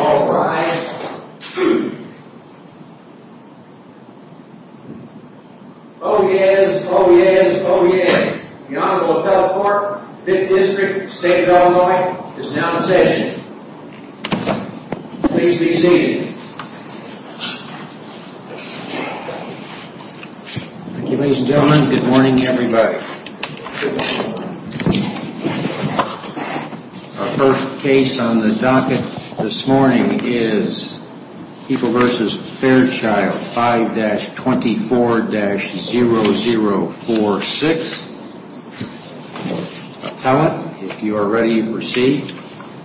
All rise. Oh yes, oh yes, oh yes. The Honorable Appellate Court, 5th District, State of Illinois, is now in session. Please be seated. Ladies and gentlemen, good morning everybody. Our first case on the docket this morning is People v. Fairchild, 5-24-0046. Appellate, if you are ready to proceed,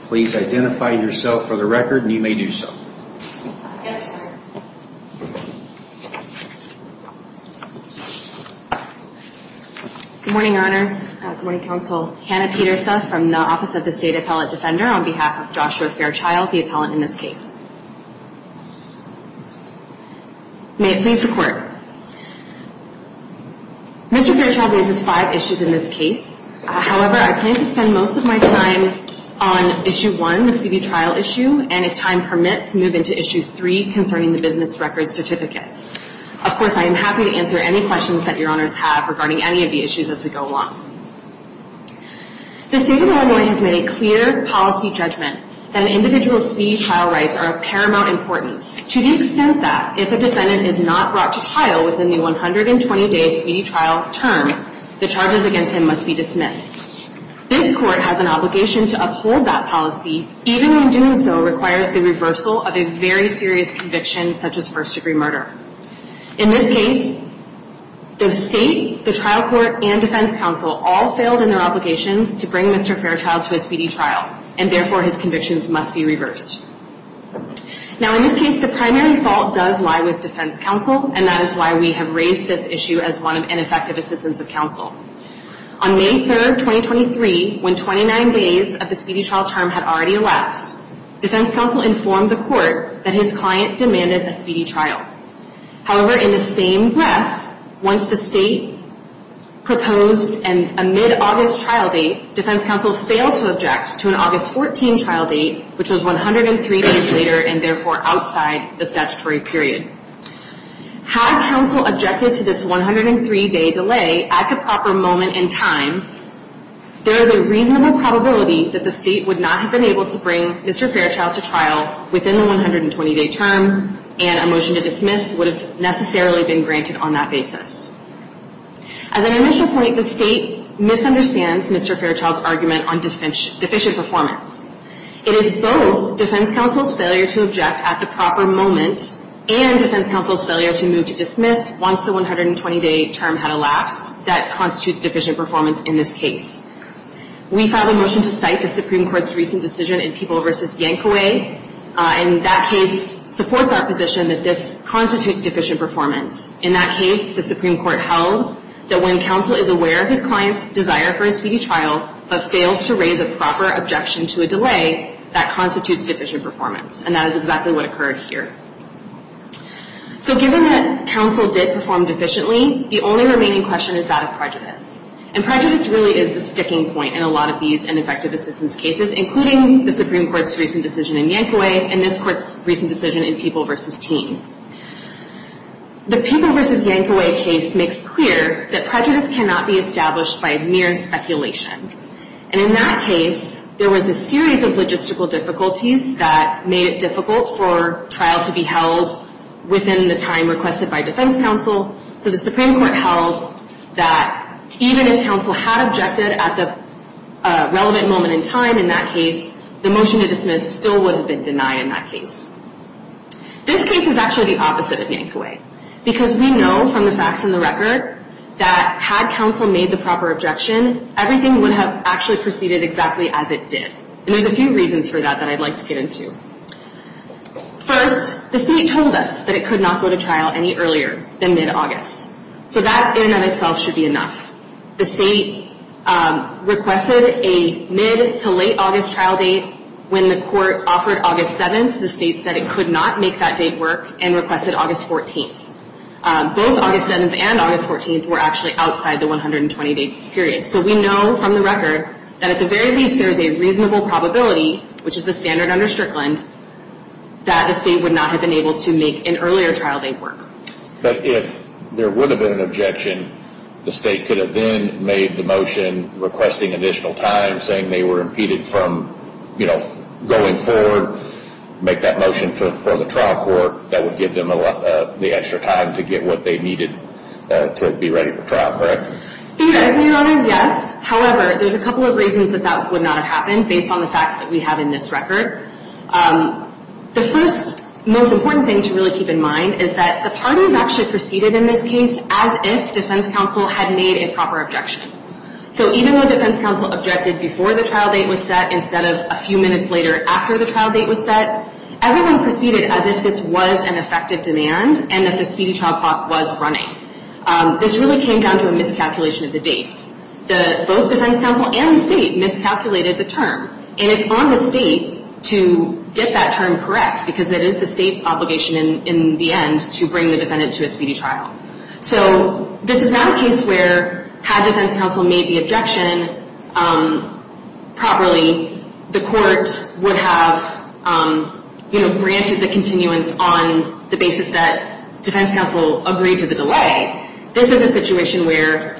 please identify yourself for the record and you may do so. Good morning, Honors. Good morning, Counsel. Hannah Peterse from the Office of the State Appellate Defender on behalf of Joshua Fairchild, the appellant in this case. May it please the Court. Mr. Fairchild raises five issues in this case. However, I plan to spend most of my time on Issue 1, the speedy trial issue, and if time permits, move into Issue 3 concerning the business records certificates. Of course, I am happy to answer any questions that your Honors have regarding any of the issues as we go along. The State of Illinois has made a clear policy judgment that an individual's speedy trial rights are of paramount importance to the extent that if a defendant is not brought to trial within the 120-day speedy trial term, the charges against him must be dismissed. This Court has an obligation to uphold that policy, even when doing so requires the reversal of a very serious conviction such as first-degree murder. In this case, the State, the trial court, and defense counsel all failed in their obligations to bring Mr. Fairchild to a speedy trial, and therefore his convictions must be reversed. Now, in this case, the primary fault does lie with defense counsel, and that is why we have raised this issue as one of ineffective assistance of counsel. On May 3, 2023, when 29 days of the speedy trial term had already elapsed, defense counsel informed the Court that his client demanded a speedy trial. However, in the same breath, once the State proposed a mid-August trial date, defense counsel failed to object to an August 14 trial date, which was 103 days later, and therefore outside the statutory period. Had counsel objected to this 103-day delay at the proper moment in time, there is a reasonable probability that the State would not have been able to bring Mr. Fairchild to trial within the 120-day term and a motion to dismiss him. A motion to dismiss would have necessarily been granted on that basis. As an initial point, the State misunderstands Mr. Fairchild's argument on deficient performance. It is both defense counsel's failure to object at the proper moment and defense counsel's failure to move to dismiss once the 120-day term had elapsed that constitutes deficient performance in this case. We filed a motion to cite the Supreme Court's recent decision in People v. Yankaway, and that case supports our position that this constitutes deficient performance. In that case, the Supreme Court held that when counsel is aware of his client's desire for a speedy trial but fails to raise a proper objection to a delay, that constitutes deficient performance, and that is exactly what occurred here. So given that counsel did perform deficiently, the only remaining question is that of prejudice. And prejudice really is the sticking point in a lot of these ineffective assistance cases, including the Supreme Court's recent decision in Yankaway and this Court's recent decision in People v. Team. The People v. Yankaway case makes clear that prejudice cannot be established by mere speculation. And in that case, there was a series of logistical difficulties that made it difficult for trial to be held within the time requested by defense counsel, so the Supreme Court held that even if counsel had objected at the relevant moment in time in that case, the motion to dismiss still would have been denied in that case. This case is actually the opposite of Yankaway, because we know from the facts and the record that had counsel made the proper objection, everything would have actually proceeded exactly as it did. And there's a few reasons for that that I'd like to get into. First, the State told us that it could not go to trial any earlier than mid-August. So that in and of itself should be enough. The State requested a mid- to late-August trial date. When the Court offered August 7th, the State said it could not make that date work and requested August 14th. Both August 7th and August 14th were actually outside the 120-day period. So we know from the record that at the very least there is a reasonable probability, which is the standard under Strickland, that the State would not have been able to make an earlier trial date work. But if there would have been an objection, the State could have then made the motion requesting additional time, saying they were impeded from going forward, make that motion for the trial court that would give them the extra time to get what they needed to be ready for trial, correct? Your Honor, yes. However, there's a couple of reasons that that would not have happened, based on the facts that we have in this record. The first, most important thing to really keep in mind is that the parties actually proceeded in this case as if defense counsel had made a proper objection. So even though defense counsel objected before the trial date was set, instead of a few minutes later after the trial date was set, everyone proceeded as if this was an effective demand and that the speedy trial clock was running. This really came down to a miscalculation of the dates. Both defense counsel and the State miscalculated the term. And it's on the State to get that term correct, because it is the State's obligation in the end to bring the defendant to a speedy trial. So this is not a case where, had defense counsel made the objection properly, the court would have, you know, granted the continuance on the basis that defense counsel agreed to the delay. This is a situation where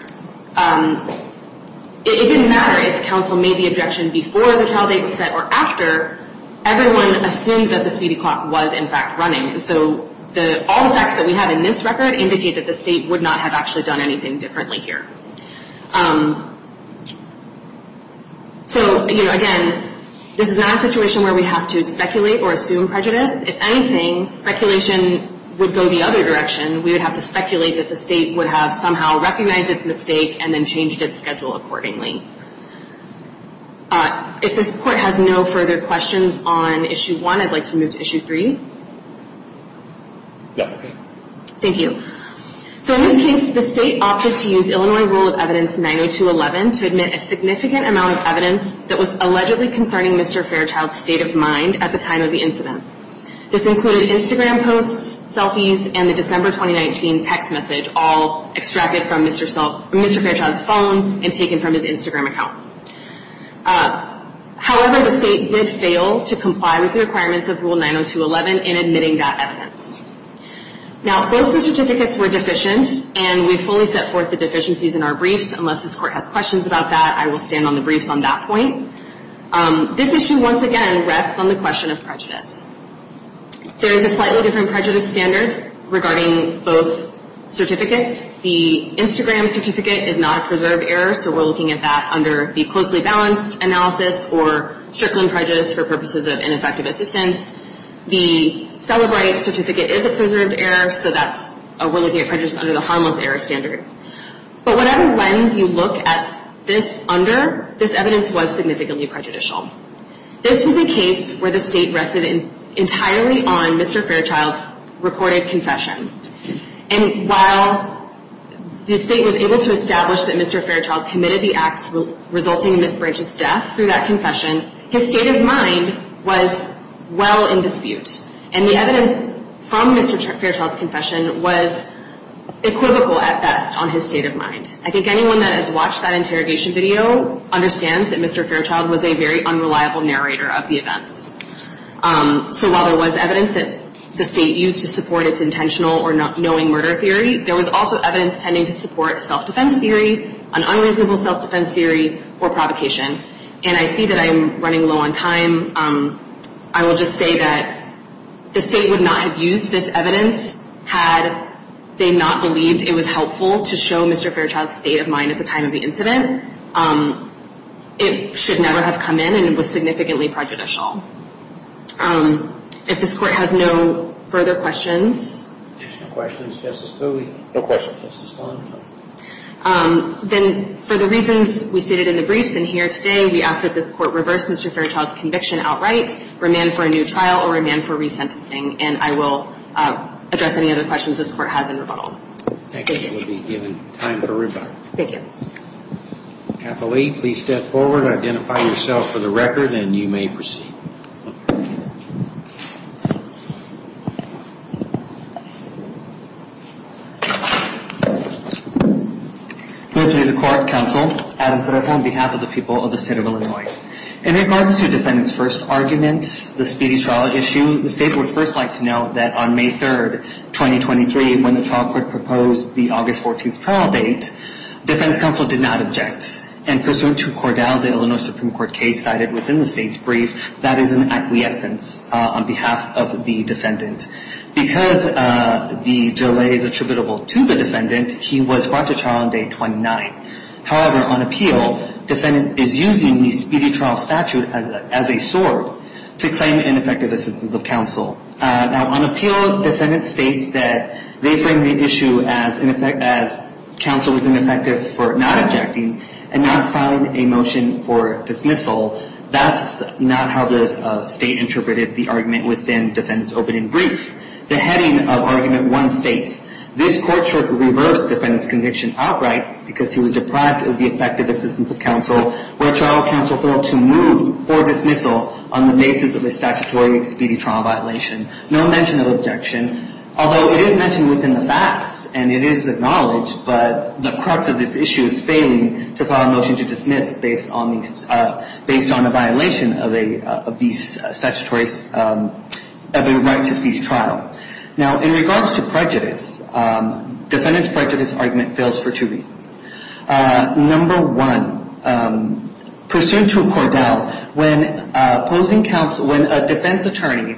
it didn't matter if counsel made the objection before the trial date was set or after. Everyone assumed that the speedy clock was, in fact, running. And so all the facts that we have in this record indicate that the State would not have actually done anything differently here. So, you know, again, this is not a situation where we have to speculate or assume prejudice. If anything, speculation would go the other direction. We would have to speculate that the State would have somehow recognized its mistake and then changed its schedule accordingly. If this court has no further questions on Issue 1, I'd like to move to Issue 3. Thank you. So in this case, the State opted to use Illinois Rule of Evidence 90211 to admit a significant amount of evidence that was allegedly concerning Mr. Fairchild's state of mind at the time of the incident. This included Instagram posts, selfies, and the December 2019 text message, all extracted from Mr. Fairchild's phone and taken from his Instagram account. However, the State did fail to comply with the requirements of Rule 90211 in admitting that evidence. Now, both the certificates were deficient, and we fully set forth the deficiencies in our briefs. Unless this court has questions about that, I will stand on the briefs on that point. This issue, once again, rests on the question of prejudice. There is a slightly different prejudice standard regarding both certificates. The Instagram certificate is not a preserved error, so we're looking at that under the closely balanced analysis or strickling prejudice for purposes of ineffective assistance. The Cellebrite certificate is a preserved error, so we're looking at prejudice under the harmless error standard. But whatever lens you look at this under, this evidence was significantly prejudicial. This was a case where the State rested entirely on Mr. Fairchild's recorded confession. And while the State was able to establish that Mr. Fairchild committed the acts resulting in Ms. Branch's death through that confession, his state of mind was well in dispute. And the evidence from Mr. Fairchild's confession was equivocal at best on his state of mind. I think anyone that has watched that interrogation video understands that Mr. Fairchild was a very unreliable narrator of the events. So while there was evidence that the State used to support its intentional or knowing murder theory, there was also evidence tending to support self-defense theory, an unreasonable self-defense theory, or provocation. And I see that I am running low on time. I will just say that the State would not have used this evidence had they not believed it was helpful to show Mr. Fairchild's state of mind at the time of the incident. It should never have come in, and it was significantly prejudicial. If this Court has no further questions, then for the reasons we stated in the briefs and here today, we ask that this Court reverse Mr. Fairchild's conviction. We ask that this Court reverse Mr. Fairchild's conviction outright, remand for a new trial, or remand for resentencing. And I will address any other questions this Court has in rebuttal. Thank you. We will be given time for rebuttal. Thank you. Appellee, please step forward and identify yourself for the record, and you may proceed. Please be seated. Please be seated. Please be seated. This Court should reverse the defendant's conviction outright because this Court reversed the defendant's conviction outright because he was deprived of the effective assistance of counsel where trial counsel failed to move or dismissal on the basis of a statutory expedient trial violation. No mention of objection, although it is mentioned within the facts and it is acknowledged, but the crux of this issue is failing to file a motion to dismiss based on a violation of the statute. Now, in regards to prejudice, defendant's prejudice argument fails for two reasons. Number one, pursuant to a cordel, when opposing counsel, when a defense attorney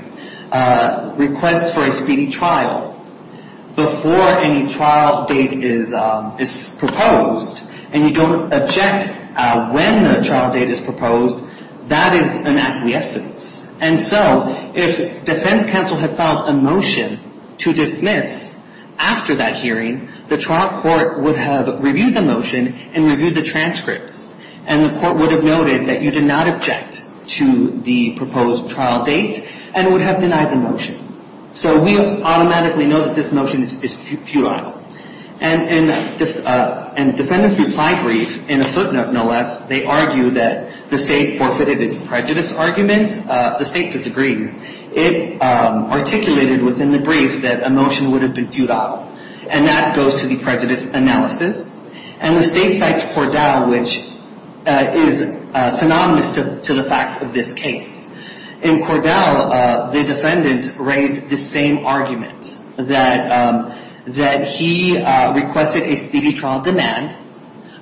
requests for a speedy trial before any trial date is proposed and you don't object when the trial date is proposed, that is an acquiescence. And so if defense counsel had filed a motion to dismiss after that hearing, the trial court would have reviewed the motion and reviewed the transcripts. And the court would have noted that you did not object to the proposed trial date and would have denied the motion. So we automatically know that this motion is futile. And in defendant's reply brief, in a footnote, no less, they argue that the state forfeited its prejudice argument. The state disagrees. It articulated within the brief that a motion would have been futile. And that goes to the prejudice analysis. And the state cites cordel, which is synonymous to the facts of this case. In cordel, the defendant raised the same argument, that he requested a speedy trial demand.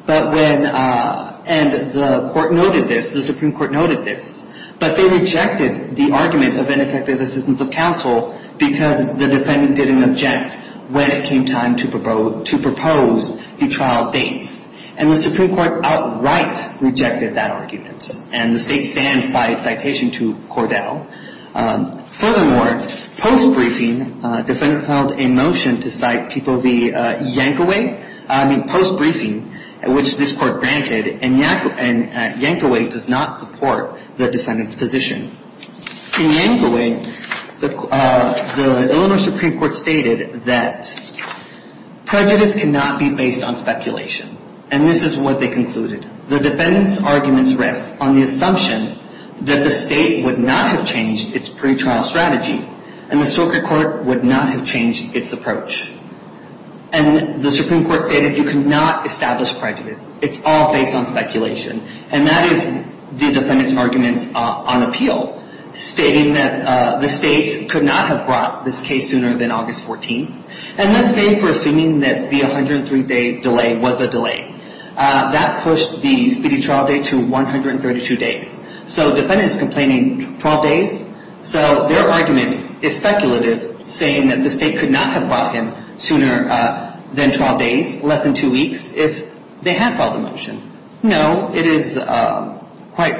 And the court noted this, the Supreme Court noted this. But they rejected the argument of ineffective assistance of counsel because the defendant didn't object when it came time to propose the trial dates. And the Supreme Court outright rejected that argument. And the state stands by its citation to cordel. Furthermore, post-briefing, defendant filed a motion to cite people via Yankaway, I mean post-briefing, which this court granted. And Yankaway does not support the defendant's position. In Yankaway, the Illinois Supreme Court stated that prejudice cannot be based on speculation. And this is what they concluded. The defendant's arguments rest on the assumption that the state would not have changed its pretrial strategy. And the circuit court would not have changed its approach. And the Supreme Court stated you cannot establish prejudice. It's all based on speculation. And that is the defendant's arguments on appeal, stating that the state could not have brought this case sooner than August 14th. And let's say for assuming that the 103-day delay was a delay. That pushed the speedy trial date to 132 days. So the defendant is complaining 12 days. So their argument is speculative, saying that the state could not have brought him sooner than 12 days, less than two weeks, if they had filed a motion. No, it is quite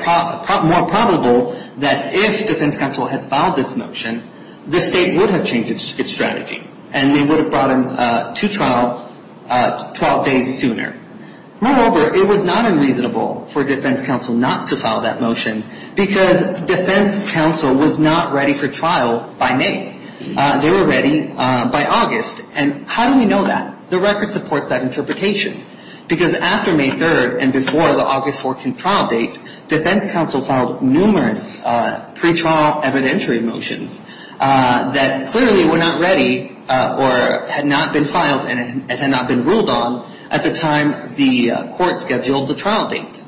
more probable that if defense counsel had filed this motion, the state would have changed its strategy. And they would have brought him to trial 12 days sooner. Moreover, it was not unreasonable for defense counsel not to file that motion because defense counsel was not ready for trial by May. They were ready by August. And how do we know that? The record supports that interpretation. Because after May 3rd and before the August 14th trial date, defense counsel filed numerous pretrial evidentiary motions that clearly were not ready or had not been filed and had not been ruled on at the time the court scheduled the trial date.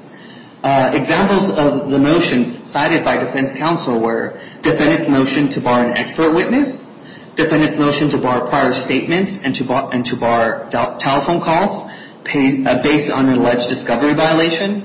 Examples of the motions cited by defense counsel were defendant's motion to bar an expert witness, defendant's motion to bar prior statements and to bar telephone calls based on an alleged discovery violation,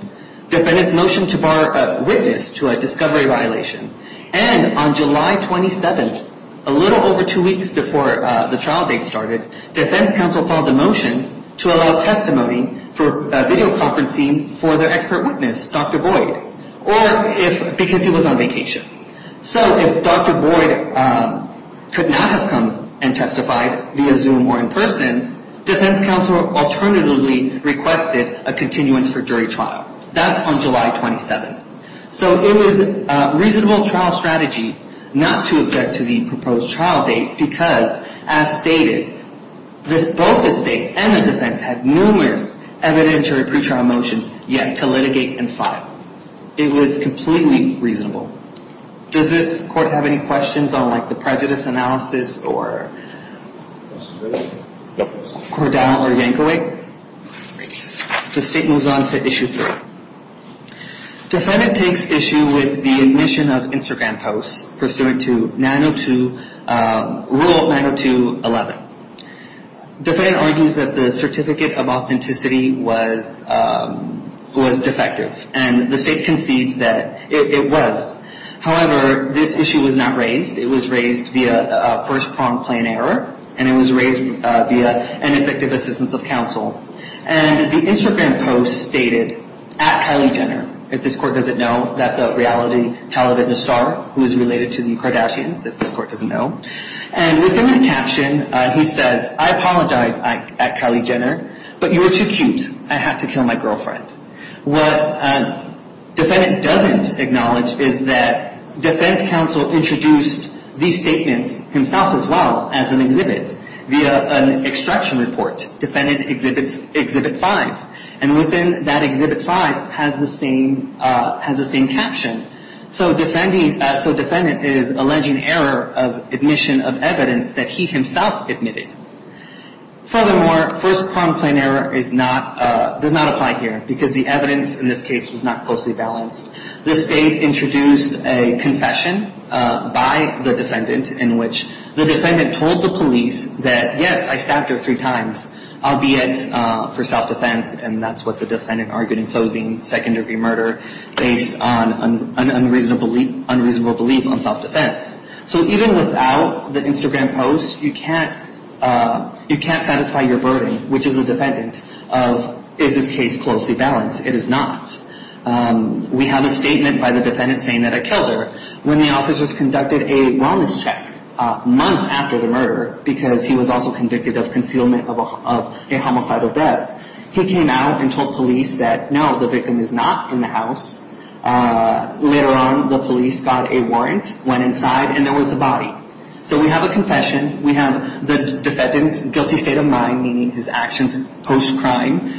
defendant's motion to bar a witness to a discovery violation. And on July 27th, a little over two weeks before the trial date started, defense counsel filed a motion to allow testimony for video conferencing for their expert witness, Dr. Boyd, because he was on vacation. So if Dr. Boyd could not have come and testified via Zoom or in person, defense counsel alternatively requested a continuance for jury trial. That's on July 27th. So it was a reasonable trial strategy not to object to the proposed trial date because, as stated, both the state and the defense had numerous evidentiary pretrial motions yet to litigate and file. It was completely reasonable. Does this court have any questions on, like, the prejudice analysis or Cordell or Yankovic? The state moves on to issue three. Defendant takes issue with the admission of Instagram posts pursuant to rule 902.11. Defendant argues that the certificate of authenticity was defective, and the state concedes that it was. However, this issue was not raised. It was raised via first prompt plain error, and it was raised via ineffective assistance of counsel. And the Instagram post stated, at Kylie Jenner, if this court doesn't know, that's a reality television star who is related to the Kardashians, if this court doesn't know. And within the caption, he says, I apologize, at Kylie Jenner, but you were too cute. I had to kill my girlfriend. What defendant doesn't acknowledge is that defense counsel introduced these statements himself as well as an exhibit via an extraction report. Defendant exhibits exhibit five. And within that exhibit five has the same caption. So defendant is alleging error of admission of evidence that he himself admitted. Furthermore, first prompt plain error does not apply here because the evidence in this case was not closely balanced. The state introduced a confession by the defendant in which the defendant told the police that, yes, I stabbed her three times, albeit for self-defense. And that's what the defendant argued in closing second-degree murder based on an unreasonable belief on self-defense. So even without the Instagram post, you can't satisfy your burden, which is the defendant, of is this case closely balanced. It is not. We have a statement by the defendant saying that I killed her. When the officers conducted a wellness check months after the murder, because he was also convicted of concealment of a homicidal death, he came out and told police that, no, the victim is not in the house. Later on, the police got a warrant, went inside, and there was a body. So we have a confession. We have the defendant's guilty state of mind, meaning his actions post-crime,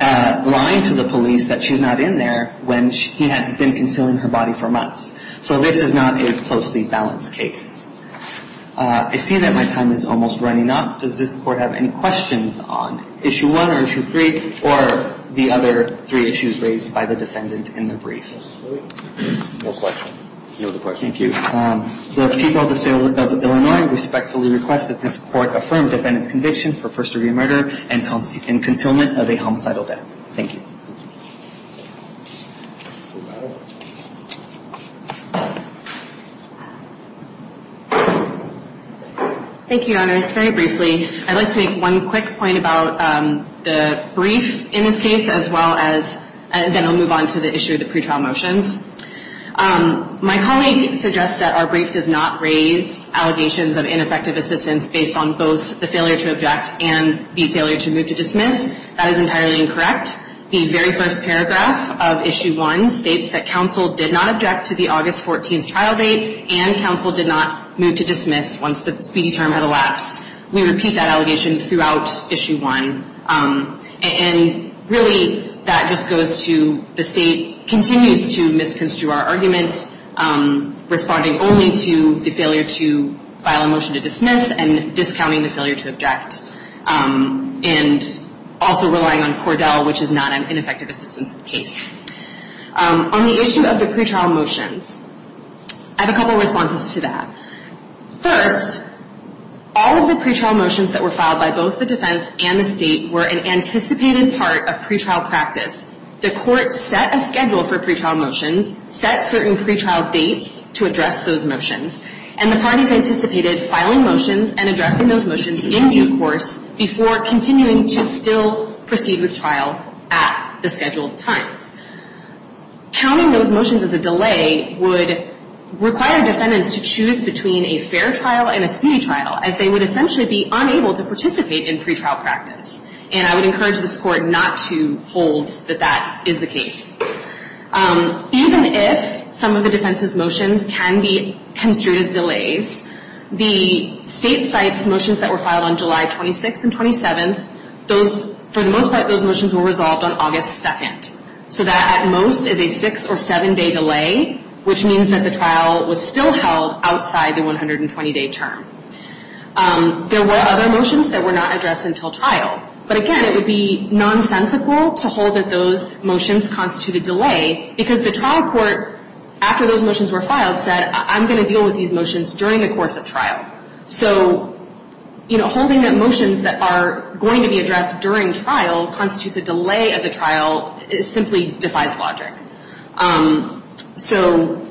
lying to the police that she's not in there when he had been concealing her body for months. So this is not a closely balanced case. I see that my time is almost running up. Does this court have any questions on Issue 1 or Issue 3 or the other three issues raised by the defendant in the brief? No question. Thank you. The people of the state of Illinois respectfully request that this court affirm the defendant's conviction for first-degree murder and concealment of a homicidal death. Thank you. Thank you, Your Honors. Very briefly, I'd like to make one quick point about the brief in this case as well as then we'll move on to the issue of the pretrial motions. My colleague suggests that our brief does not raise allegations of ineffective assistance based on both the failure to object and the failure to move to dismiss. That is entirely incorrect. The very first paragraph of Issue 1 states that counsel did not object to the August 14th trial date and counsel did not move to dismiss once the speedy term had elapsed. We repeat that allegation throughout Issue 1. And really that just goes to the state continues to misconstrue our argument, responding only to the failure to file a motion to dismiss and discounting the failure to object and also relying on Cordell, which is not an ineffective assistance case. On the issue of the pretrial motions, I have a couple of responses to that. First, all of the pretrial motions that were filed by both the defense and the state were an anticipated part of pretrial practice. The court set a schedule for pretrial motions, set certain pretrial dates to address those motions, and the parties anticipated filing motions and addressing those motions in due course before continuing to still proceed with trial at the scheduled time. Counting those motions as a delay would require defendants to choose between a fair trial and a speedy trial, as they would essentially be unable to participate in pretrial practice. And I would encourage this Court not to hold that that is the case. Even if some of the defense's motions can be construed as delays, the state's motions that were filed on July 26th and 27th, for the most part those motions were resolved on August 2nd. So that at most is a six or seven day delay, which means that the trial was still held outside the 120 day term. There were other motions that were not addressed until trial. But again, it would be nonsensical to hold that those motions constitute a delay, because the trial court, after those motions were filed, said I'm going to deal with these motions during the course of trial. So, you know, holding the motions that are going to be addressed during trial constitutes a delay of the trial. It simply defies logic. So,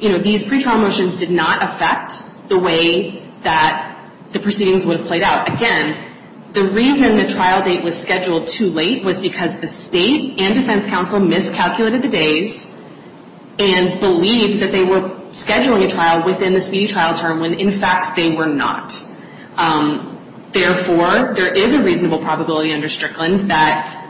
you know, these pretrial motions did not affect the way that the proceedings would have played out. Again, the reason the trial date was scheduled too late was because the state and defense counsel miscalculated the days and believed that they were scheduling a trial within the speedy trial term, when in fact they were not. Therefore, there is a reasonable probability under Strickland that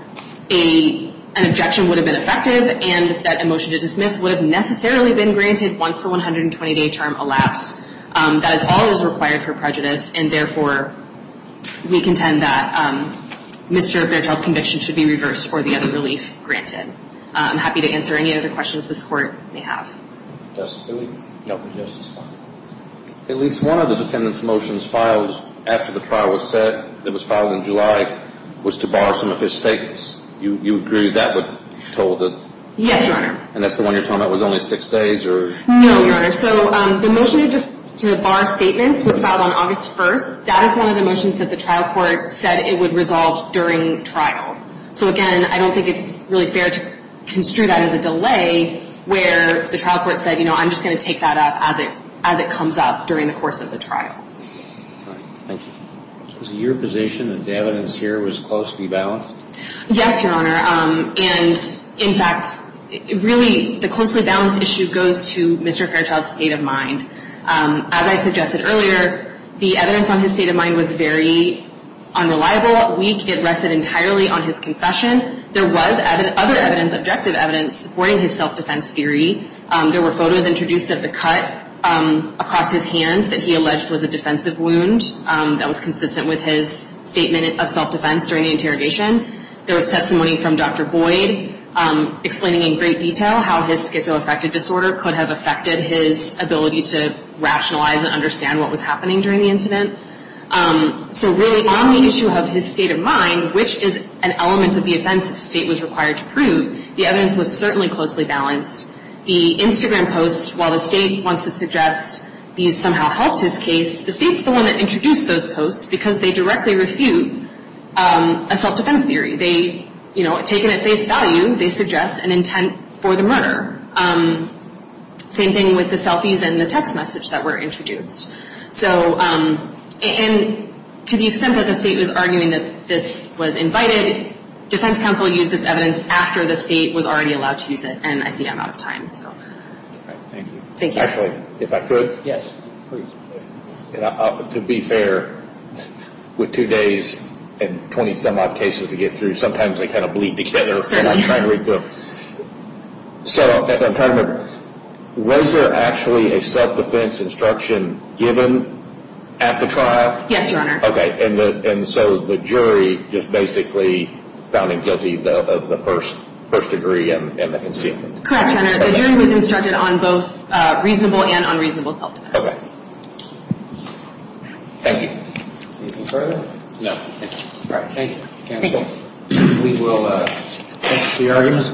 an objection would have been effective and that a motion to dismiss would have necessarily been granted once the 120 day term elapsed. That is all that is required for prejudice. And therefore, we contend that Mr. Fairchild's conviction should be reversed for the other relief granted. I'm happy to answer any other questions this court may have. At least one of the defendant's motions filed after the trial was set, that was filed in July, was to bar some of his statements. You agree that was told? Yes, Your Honor. And that's the one you're talking about was only six days? No, Your Honor. So the motion to bar statements was filed on August 1st. That is one of the motions that the trial court said it would resolve during trial. So again, I don't think it's really fair to construe that as a delay where the trial court said, you know, I'm just going to take that up as it comes up during the course of the trial. All right. Thank you. Is it your position that the evidence here was closely balanced? Yes, Your Honor. And, in fact, really the closely balanced issue goes to Mr. Fairchild's state of mind. As I suggested earlier, the evidence on his state of mind was very unreliable, weak. It rested entirely on his confession. There was other evidence, objective evidence, supporting his self-defense theory. There were photos introduced of the cut across his hand that he alleged was a defensive wound that was consistent with his statement of self-defense during the interrogation. There was testimony from Dr. Boyd explaining in great detail how his schizoaffective disorder could have affected his ability to rationalize and understand what was happening during the incident. So really on the issue of his state of mind, which is an element of the offense the state was required to prove, the evidence was certainly closely balanced. The Instagram posts, while the state wants to suggest these somehow helped his case, the state's the one that introduced those posts because they directly refute a self-defense theory. They, you know, taken at face value, they suggest an intent for the murder. Same thing with the selfies and the text message that were introduced. So, and to the extent that the state was arguing that this was invited, defense counsel used this evidence after the state was already allowed to use it. And I see I'm out of time, so. Thank you. Thank you. Actually, if I could. Yes, please. To be fair, with two days and 20 some odd cases to get through, sometimes they kind of bleed together when I'm trying to read through them. So I'm trying to, was there actually a self-defense instruction given at the trial? Yes, Your Honor. Okay, and so the jury just basically found him guilty of the first degree and the concealment. Correct, Your Honor. The jury was instructed on both reasonable and unreasonable self-defense. Thank you. Anything further? No, thank you. All right. Thank you, counsel. Thank you.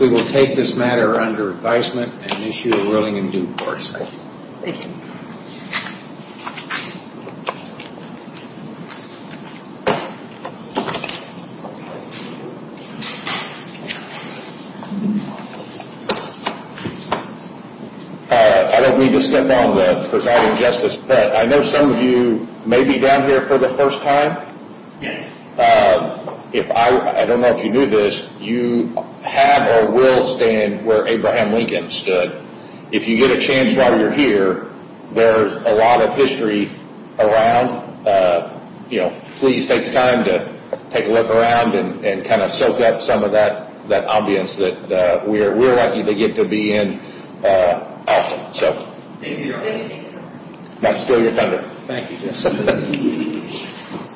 We will take this matter under advisement and issue a ruling in due course. Thank you. I don't mean to step on the presiding justice, but I know some of you may be down here for the first time. If I, I don't know if you knew this, you have or will stand where Abraham Lincoln stood. If you get a chance while you're here, there's a lot of history around. You know, please take the time to take a look around and kind of soak up some of that ambience that we're lucky to get to be in often. Thank you, Your Honor. That's still your thunder. Thank you, Judge.